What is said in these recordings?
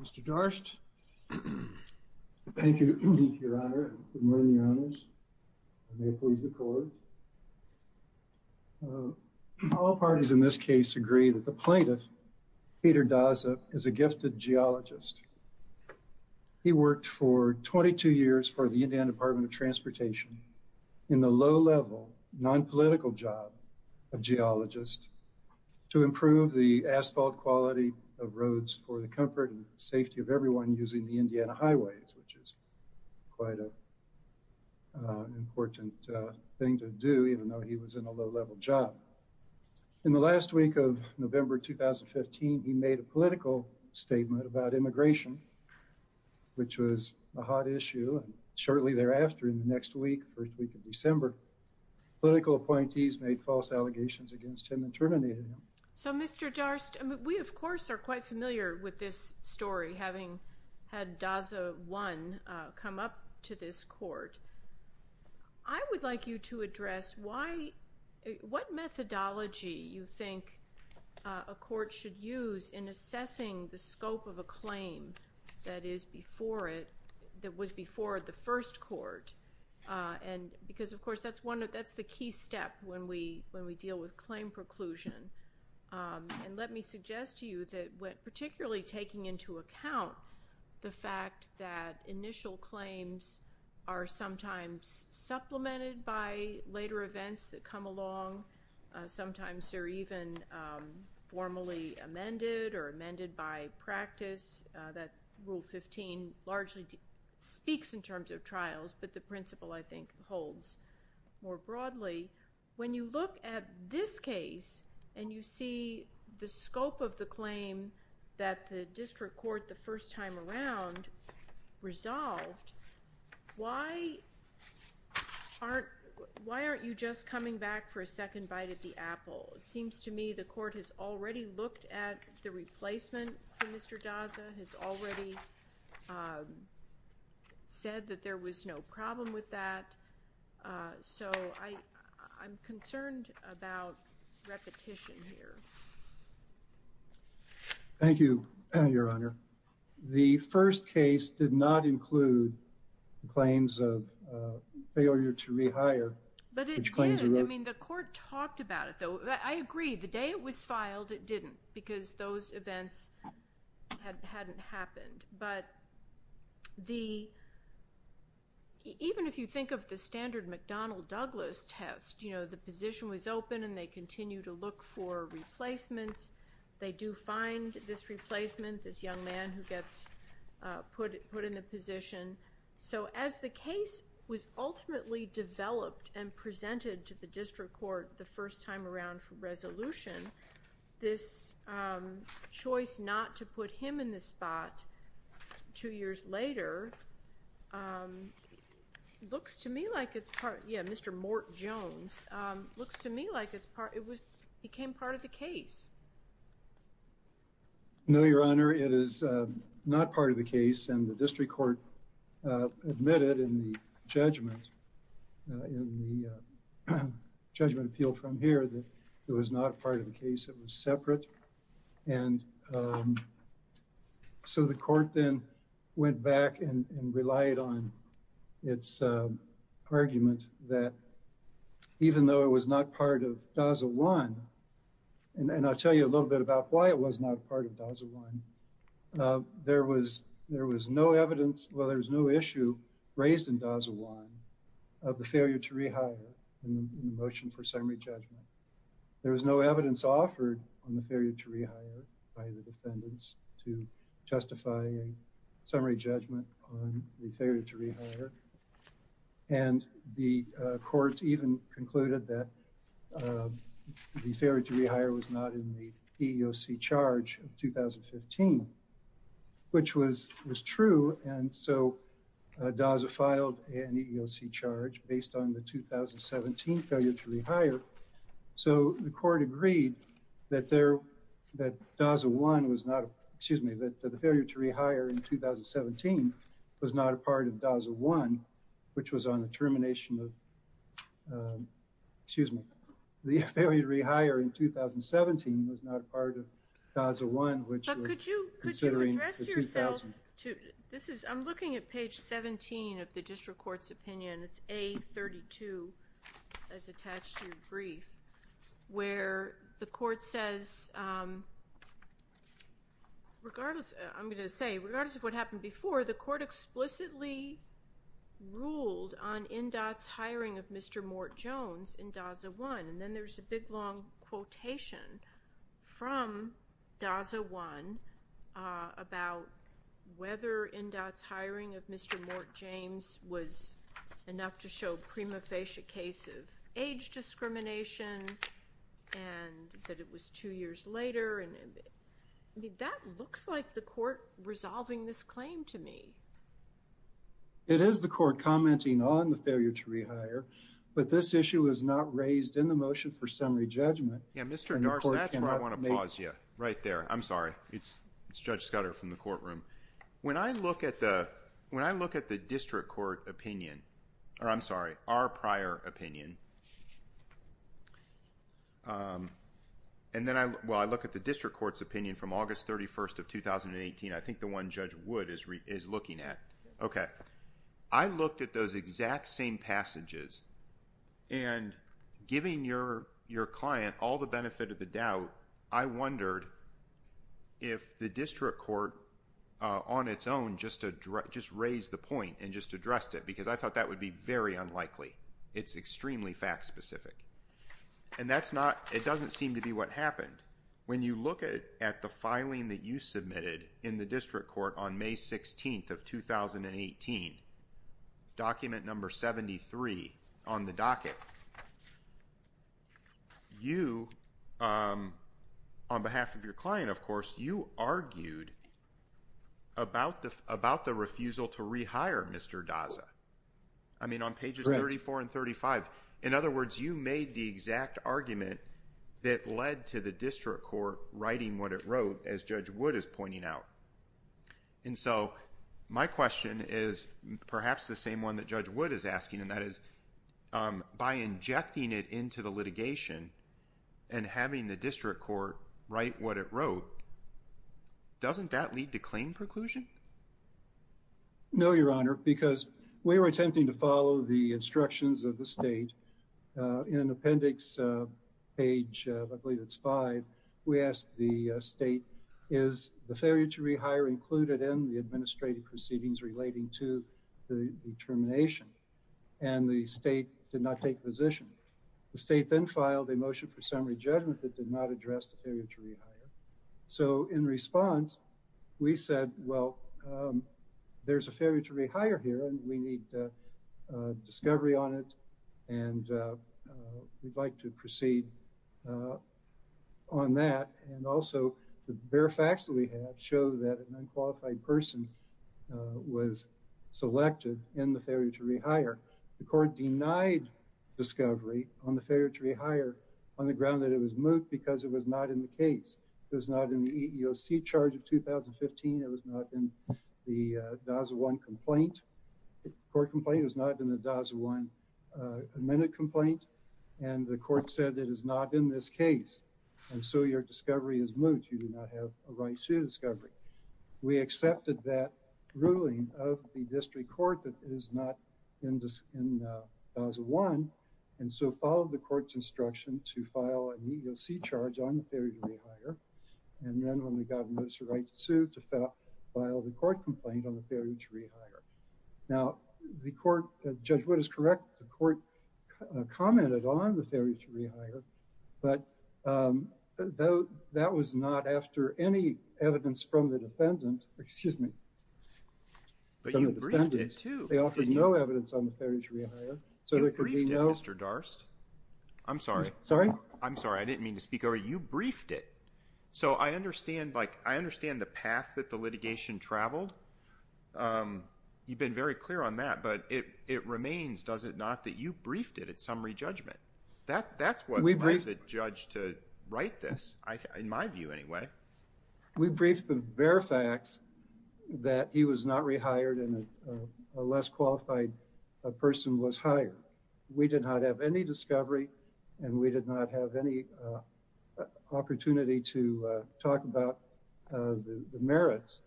Mr. Darst. Thank you, Your Honor. Good morning, Your Honors. I may please the Court. All parties in this case agree that the plaintiff, Peter Daza, is a gifted geologist. He worked for 22 years for the Indiana Department of Transportation in the low-level, non-political job of geologist to improve the asphalt quality of roads for the comfort and safety of everyone using the Indiana highways, which is quite an important thing to do even though he was in a low-level job. In the last week of November 2015, he made a political statement about immigration, which was a hot issue. Shortly thereafter, in the next week, first week of December, political appointees made false allegations against him and terminated him. So, Mr. Darst, we of course are quite familiar with this story, having had Daza I come up to this Court. I would like you to address what methodology you think a Court should use in assessing the scope of a claim that was before the first Court, because of course that's the key step when we deal with claim preclusion. And let me suggest to you that when particularly taking into account the fact that initial claims are sometimes supplemented by later events that come along, sometimes they're even formally amended or amended by practice, that Rule 15 largely speaks in terms of trials, but the principle, I think, holds more broadly. When you look at this case and you see the scope of the claim that the District Court the first time around resolved, why aren't you just coming back for a second bite at the apple? It seems to me the Court has already looked at the replacement for Mr. Daza, has already said that there was no problem with that, so I'm concerned about repetition here. Thank you, Your Honor. The first case did not include claims of failure to rehire. But it did. I mean, the Court talked about it, though. I agree, the day it was filed it didn't, because those events hadn't happened. But even if you think of the standard McDonnell-Douglas test, you know, the position was open and they continue to look for replacements. They do find this replacement, this young man who gets put in the position. So as the case was ultimately developed and presented to the District Court the first time around for resolution, this choice not to put him in the spot two years later looks to me like it's part, yeah, Mr. Mort Jones, looks to me like it's part, it was, became part of the case. No, Your Honor, it is not part of the case and the District Court admitted in the judgment, in the judgment appeal from here that it was not part of the case, it was separate. And so the Court then went back and relied on its argument that even though it was not part of DASA I, and I'll tell you a little bit about why it was not part of DASA I, there was no evidence, well there was no issue raised in DASA I of the failure to rehire in the motion for summary judgment. There was no evidence offered on the failure to rehire by the defendants to justify a summary judgment on the failure to rehire. And the Court even concluded that the failure to rehire was not in the EEOC charge of 2015, which was true and so DASA filed an EEOC charge based on the 2017 failure to rehire. So the Court agreed that there, that DASA I was not, excuse me, that the failure to rehire in 2017 was not a part of DASA I, which was on the termination of, excuse me, the failure to rehire in 2017 was not a part of DASA I, which was considering the 2000. But could you address yourself to, this is, I'm looking at page 17 of the District Court's opinion, it's A32 as attached to your brief, where the Court says, regardless, I'm going to say, regardless of what happened before, the Court explicitly ruled on NDOT's hiring of Mr. Mort Jones in DASA I. And then there's a big long quotation from DASA I about whether NDOT's hiring of Mr. Mort James was enough to show prima facie case of age discrimination and that it was two years later. I mean, that looks like the Court resolving this claim to me. It is the Court commenting on the failure to rehire, but this issue is not raised in the motion for summary judgment. Yeah, Mr. Darst, that's where I want to pause you. Right there. I'm sorry. It's Judge Scudder from the courtroom. When I look at the, when I look at the District Court opinion, or I'm sorry, our prior opinion, and then I, well, I look at the District Court's opinion from August 31st of 2018, I think the one Judge Wood is looking at. Okay. I looked at those exact same passages, and giving your client all the benefit of the doubt, I wondered if the District Court on its own just raised the point and just addressed it, because I thought that would be very unlikely. It's extremely fact-specific. And that's not, it doesn't seem to be what happened. When you look at the filing that you submitted in the District Court on May 16th of 2018, document number 73 on the docket, you, on behalf of your client, of course, you argued about the refusal to rehire Mr. Daza. I mean, on pages 34 and 35. In other words, you made the exact argument that led to the District Court writing what it wrote, as Judge Wood is pointing out. And so, my question is perhaps the same one that Judge Wood is asking, and that is, by injecting it into the litigation and having the District Court write what it wrote, doesn't that lead to claim preclusion? No, Your Honor, because we were attempting to follow the instructions of the state. In appendix page, I believe it's five, we asked the state, is the failure to rehire included in the administrative proceedings relating to the termination? And the state did not take position. The state then filed a motion for summary judgment that did not address the failure to rehire. So, in response, we said, well, there's a failure to rehire here, and we need discovery on it, and we'd like to proceed on that. And also, the bare facts that we have show that an unqualified person was selected in the failure to rehire. The court denied discovery on the failure to rehire on the ground that it was moot because it was not in the case. It was not in the EEOC charge of 2015. It was not in the DASA 1 complaint, court complaint. It was not in the DASA 1 amendment complaint, and the court said it is not in this case. And so, your discovery is moot. You do not have a right to discovery. We accepted that ruling of the district court that is not in DASA 1, and so followed the court's instruction to file an EEOC charge on the failure to rehire. And then, when we got a notice of right to sue, to file the court complaint on the failure to rehire. Now, the court, Judge Wood is correct. The court commented on the failure to rehire, but that was not after any evidence from the defendant. Excuse me. But you briefed it, too. They offered no evidence on the failure to rehire. You briefed it, Mr. Darst. I'm sorry. Sorry? I'm sorry. I didn't mean to speak over you. You briefed it. So, I understand, like, I understand the path that the litigation traveled. You've been very clear on that, but it remains, does it not, that you briefed it at summary judgment. That's what led the judge to write this, in my view, anyway. We briefed the very facts that he was not rehired and a less qualified person was hired. We did not have any discovery, and we did not have any opportunity to talk about the merits.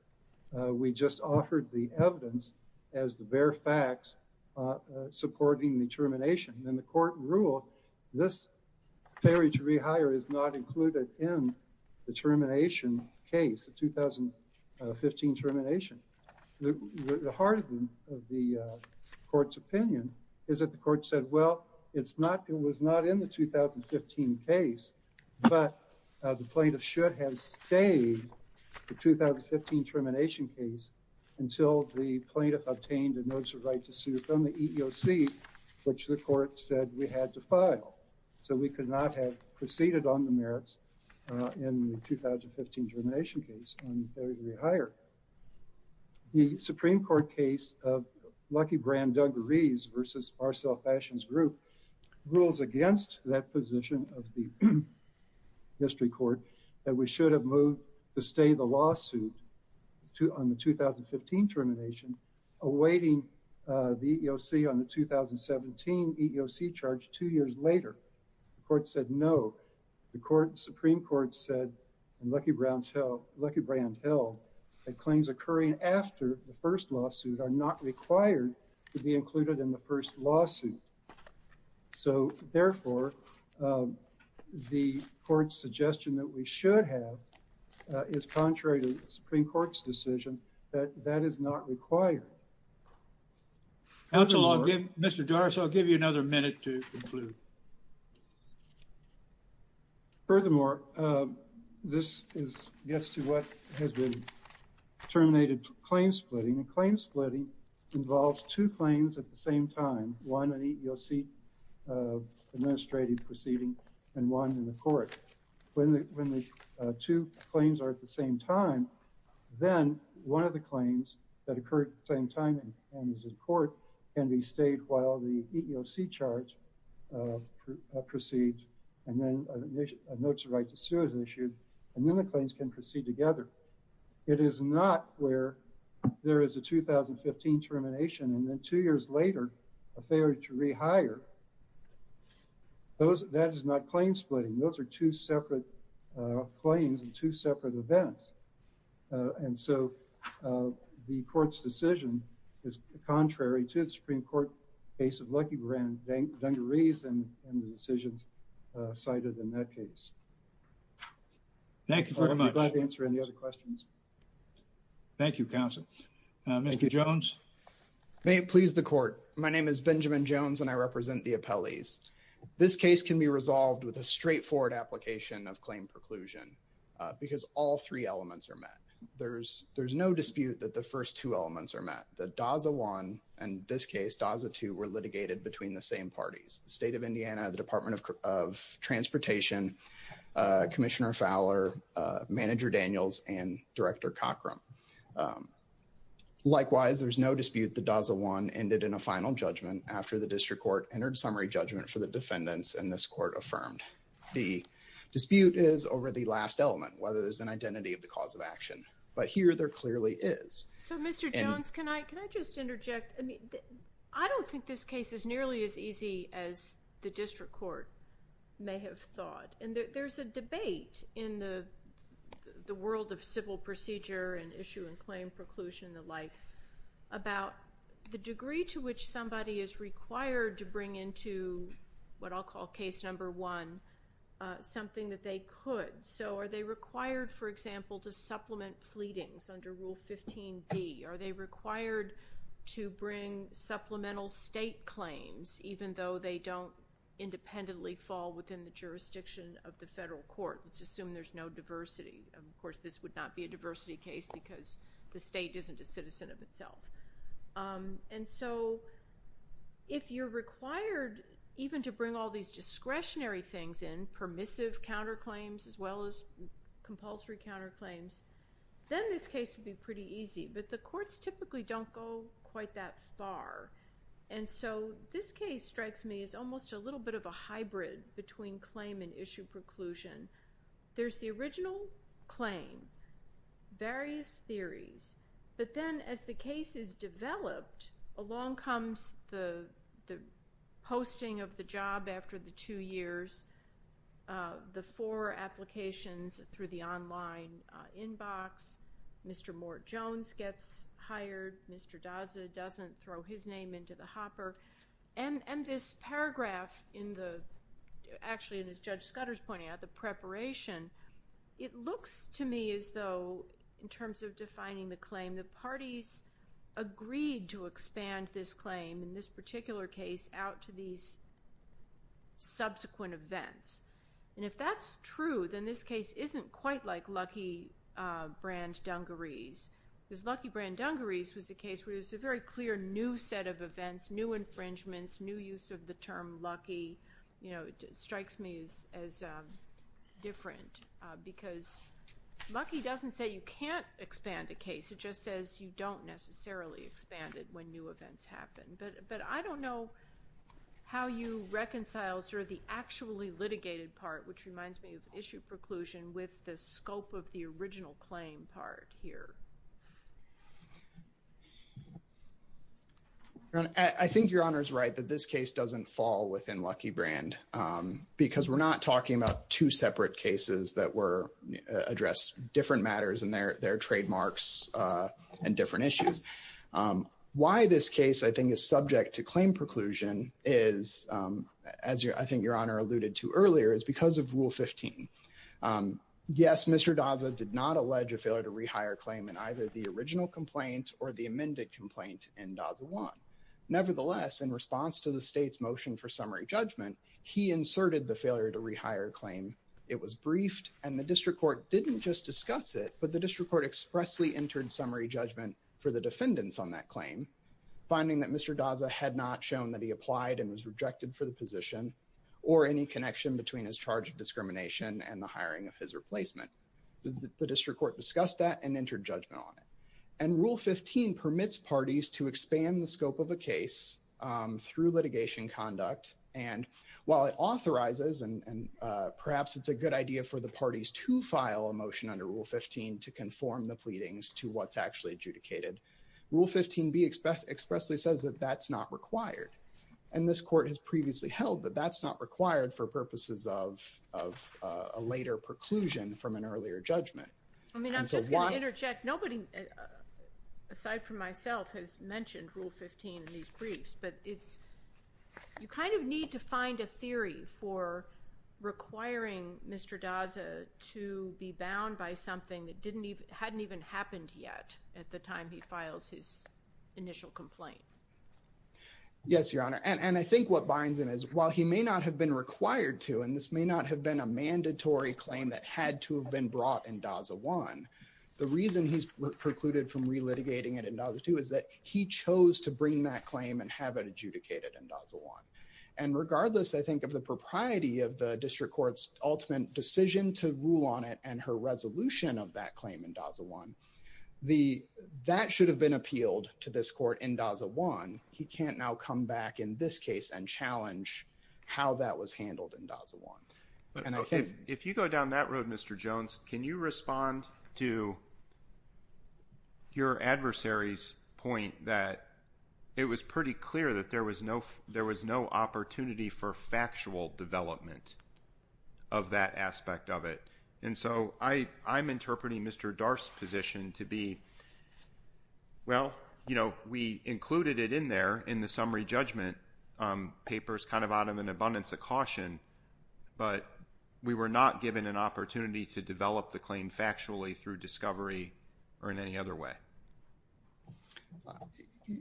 We just offered the evidence as the bare facts supporting the termination. And the court ruled this failure to rehire is not included in the termination case, the 2015 termination. The heart of the court's opinion is that the court said, well, it's not, it was not in the 2015 case, but the plaintiff should have stayed the 2015 termination case until the plaintiff obtained a notice of right to sue from the EEOC, which the court said we had to file. So, we could not have proceeded on the merits in the 2015 termination case on failure to rehire. The Supreme Court case of Lucky Brand, Doug Rees versus Marcel Fashion's group rules against that position of the history court that we should have moved to stay the lawsuit on the 2015 termination, awaiting the EEOC on the 2017 EEOC charge two years later. The court said no. The Supreme Court said in Lucky Brand Hill that claims occurring after the first lawsuit are not required to be included in the first lawsuit. So, therefore, the court's suggestion that we should have is contrary to the Supreme Court's decision that that is not required. Mr. Doris, I'll give you another minute to conclude. Furthermore, this gets to what has been terminated claim splitting. And claim splitting involves two claims at the same time. One, an EEOC administrative proceeding, and one in the court. When the two claims are at the same time, then one of the claims that occurred at the same time and is in court can be stayed while the EEOC charge proceeds and then a notice of right to sue is issued, and then the claims can proceed together. It is not where there is a 2015 termination and then two years later, a failure to rehire. That is not claim splitting. Those are two separate claims and two separate events. And so the court's decision is contrary to the Supreme Court case of Lucky Brand Dungarees and the decisions cited in that case. Thank you very much. I'll be glad to answer any other questions. Thank you, counsel. Thank you, Jones. May it please the court. My name is Benjamin Jones, and I represent the appellees. This case can be resolved with a straightforward application of claim preclusion because all three elements are met. There's no dispute that the first two elements are met. The DASA I and, in this case, DASA II were litigated between the same parties, the State of Indiana, the Department of Transportation, Commissioner Fowler, Manager Daniels, and Director Cockrum. Likewise, there's no dispute the DASA I ended in a final judgment after the district court entered summary judgment for the defendants, and this court affirmed the dispute is over the last element, whether there's an identity of the cause of action. But here there clearly is. So, Mr. Jones, can I just interject? I mean, I don't think this case is nearly as easy as the district court may have thought. And there's a debate in the world of civil procedure and issue and claim preclusion and the like about the degree to which somebody is required to bring into what I'll call case number one something that they could. So are they required, for example, to supplement pleadings under Rule 15D? Are they required to bring supplemental state claims even though they don't independently fall within the jurisdiction of the federal court? Let's assume there's no diversity. Of course, this would not be a diversity case because the state isn't a citizen of itself. And so if you're required even to bring all these discretionary things in, permissive counterclaims as well as compulsory counterclaims, then this case would be pretty easy. But the courts typically don't go quite that far. And so this case strikes me as almost a little bit of a hybrid between claim and issue preclusion. There's the original claim, various theories. But then as the case is developed, along comes the posting of the job after the two years, the four applications through the online inbox. Mr. Mort Jones gets hired. Mr. Daza doesn't throw his name into the hopper. And this paragraph, actually, as Judge Scudder's pointing out, the preparation, it looks to me as though, in terms of defining the claim, the parties agreed to expand this claim in this particular case out to these subsequent events. And if that's true, then this case isn't quite like Luckey-Brand-Dungarees. Because Luckey-Brand-Dungarees was a case where there was a very clear new set of events, new infringements, new use of the term Luckey, you know, it strikes me as different. Because Luckey doesn't say you can't expand a case. It just says you don't necessarily expand it when new events happen. But I don't know how you reconcile sort of the actually litigated part, which reminds me of issue preclusion, with the scope of the original claim part here. I think Your Honor is right that this case doesn't fall within Luckey-Brand. Because we're not talking about two separate cases that were addressed, different matters and their trademarks and different issues. Why this case, I think, is subject to claim preclusion is, as I think Your Honor alluded to earlier, is because of Rule 15. Yes, Mr. Daza did not allege a failure to rehire claim in either the original complaint or the amended complaint in Daza 1. Nevertheless, in response to the state's motion for summary judgment, he inserted the failure to rehire claim. And the district court didn't just discuss it, but the district court expressly entered summary judgment for the defendants on that claim, finding that Mr. Daza had not shown that he applied and was rejected for the position or any connection between his charge of discrimination and the hiring of his replacement. The district court discussed that and entered judgment on it. And Rule 15 permits parties to expand the scope of a case through litigation conduct. And while it authorizes, and perhaps it's a good idea for the parties to file a motion under Rule 15 to conform the pleadings to what's actually adjudicated, Rule 15b expressly says that that's not required. And this court has previously held that that's not required for purposes of a later preclusion from an earlier judgment. I mean, I'm just going to interject. Nobody, aside from myself, has mentioned Rule 15 in these briefs. But you kind of need to find a theory for requiring Mr. Daza to be bound by something that hadn't even happened yet at the time he files his initial complaint. Yes, Your Honor. And I think what binds him is while he may not have been required to, and this may not have been a mandatory claim that had to have been brought in Daza I, the reason he's precluded from relitigating it in Daza II is that he chose to bring that claim and have it adjudicated in Daza I. And regardless, I think, of the propriety of the district court's ultimate decision to rule on it and her resolution of that claim in Daza I, that should have been appealed to this court in Daza I. He can't now come back in this case and challenge how that was handled in Daza I. If you go down that road, Mr. Jones, can you respond to your adversary's point that it was pretty clear that there was no opportunity for factual development of that aspect of it? And so I'm interpreting Mr. Darf's position to be, well, you know, we included it in there in the summary judgment papers kind of out of an abundance of caution, but we were not given an opportunity to develop the claim factually through discovery or in any other way.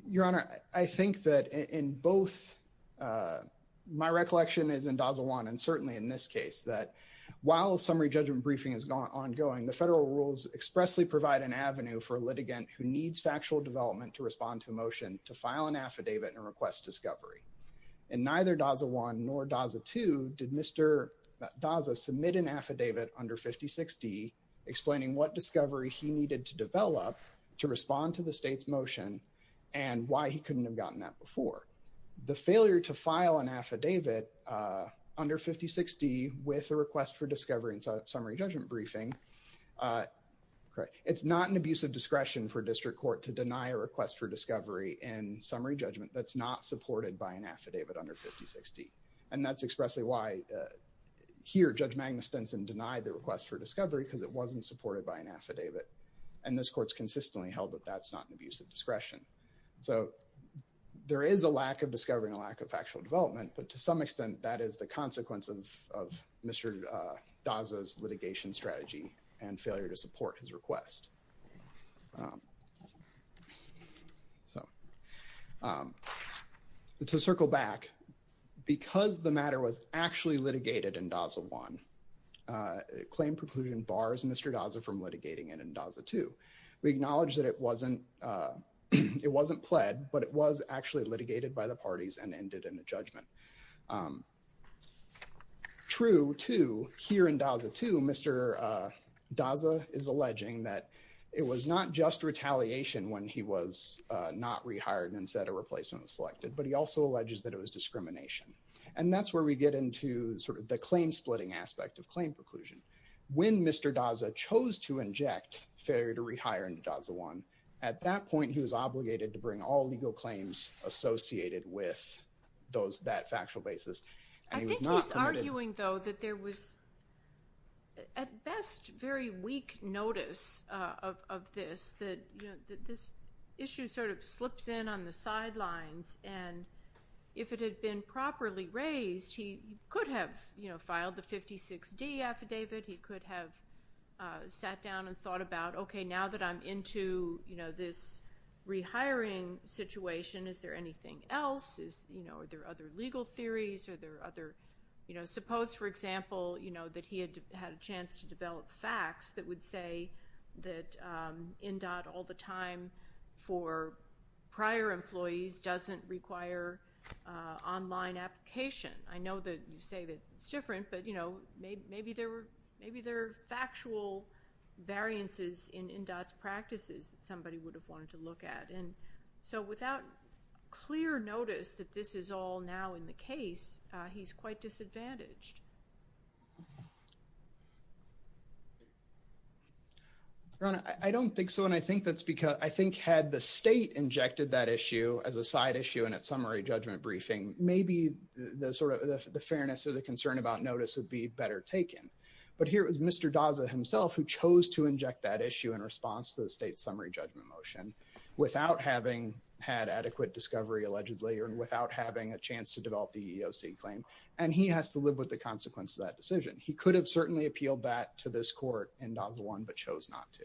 Your Honor, I think that in both my recollection is in Daza I and certainly in this case that while summary judgment briefing is ongoing, the federal rules expressly provide an avenue for a litigant who needs factual development to respond to a motion to file an affidavit and request discovery. In neither Daza I nor Daza II, did Mr. Daza submit an affidavit under 5060 explaining what discovery he needed to develop to respond to the state's motion and why he couldn't have gotten that before. The failure to file an affidavit under 5060 with a request for discovery in summary judgment briefing, it's not an abuse of discretion for district court to deny a request for discovery in summary judgment that's not supported by an affidavit under 5060. And that's expressly why here Judge Magnus Stenson denied the request for discovery because it wasn't supported by an affidavit. And this court's consistently held that that's not an abuse of discretion. So there is a lack of discovery and a lack of factual development, but to some extent that is the consequence of Mr. Daza's litigation strategy and failure to support his request. To circle back, because the matter was actually litigated in Daza I, claim preclusion bars Mr. Daza from litigating it in Daza II. We acknowledge that it wasn't, it wasn't pled, but it was actually litigated by the parties and ended in a judgment. True to here in Daza II, Mr. Daza is alleging that it was not just retaliation when he was not rehired and said a replacement was selected, but he also alleges that it was discrimination. And that's where we get into sort of the claim splitting aspect of claim preclusion. When Mr. Daza chose to inject failure to rehire in Daza I, at that point he was obligated to bring all legal claims associated with those, that factual basis. I think he's arguing though that there was at best very weak notice of this, that this issue sort of slips in on the sidelines and if it had been properly raised he could have filed the 56D affidavit. He could have sat down and thought about, okay, now that I'm into, you know, this rehiring situation, is there anything else? Is, you know, are there other legal theories? Are there other, you know, suppose for example, you know, that he had had a chance to develop facts that would say that INDOT all the time for prior employees doesn't require online application. I know that you say that it's different, but, you know, maybe there are factual variances in INDOT's practices that somebody would have wanted to look at. And so without clear notice that this is all now in the case, he's quite disadvantaged. Ron, I don't think so, and I think that's because, I think had the state injected that issue as a side issue in its summary judgment briefing, maybe the sort of the fairness or the concern about notice would be better taken. But here it was Mr. Daza himself who chose to inject that issue in response to the state summary judgment motion without having had adequate discovery allegedly or without having a chance to develop the EEOC claim. And he has to live with the consequence of that decision. He could have certainly appealed that to this court in DAZA 1 but chose not to.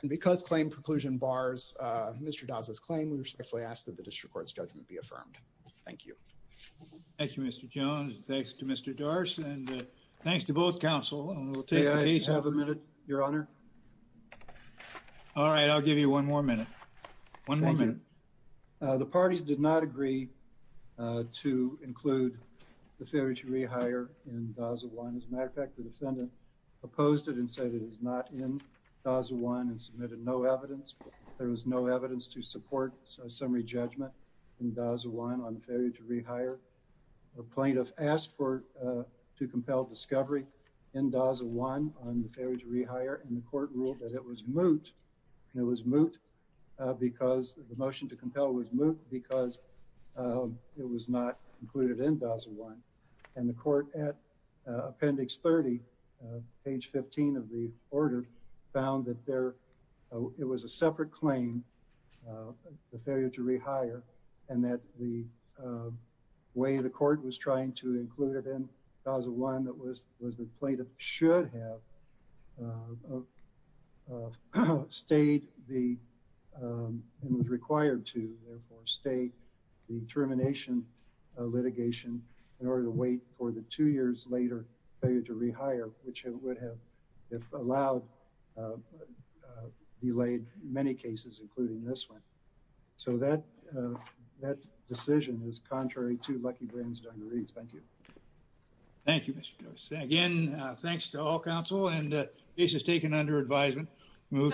And because claim preclusion bars Mr. Daza's claim, we respectfully ask that the district court's judgment be affirmed. Thank you. Thank you, Mr. Jones. Thanks to Mr. Dars. And thanks to both counsel. And we'll take the case. May I have a minute, Your Honor? All right, I'll give you one more minute. One more minute. Thank you. The parties did not agree to include the failure to rehire in DAZA 1. As a matter of fact, the defendant opposed it and said it is not in DAZA 1 and submitted no evidence. There was no evidence to support a summary judgment in DAZA 1 on the failure to rehire. A plaintiff asked to compel discovery in DAZA 1 on the failure to rehire. And the court ruled that it was moot. And it was moot because the motion to compel was moot because it was not included in DAZA 1. And the court, at appendix 30, page 15 of the order, found that it was a separate claim, the failure to rehire, and that the way the court was trying to include it in DAZA 1 was that the plaintiff should have stayed the, and was required to, therefore, stay the termination litigation in order to wait for the two years later failure to rehire, which it would have, if allowed, delayed many cases, including this one. So that decision is contrary to Lucky Glenn's dungarees. Thank you. Thank you, Mr. Curtis. Again, thanks to all counsel. And the case is taken under advisement.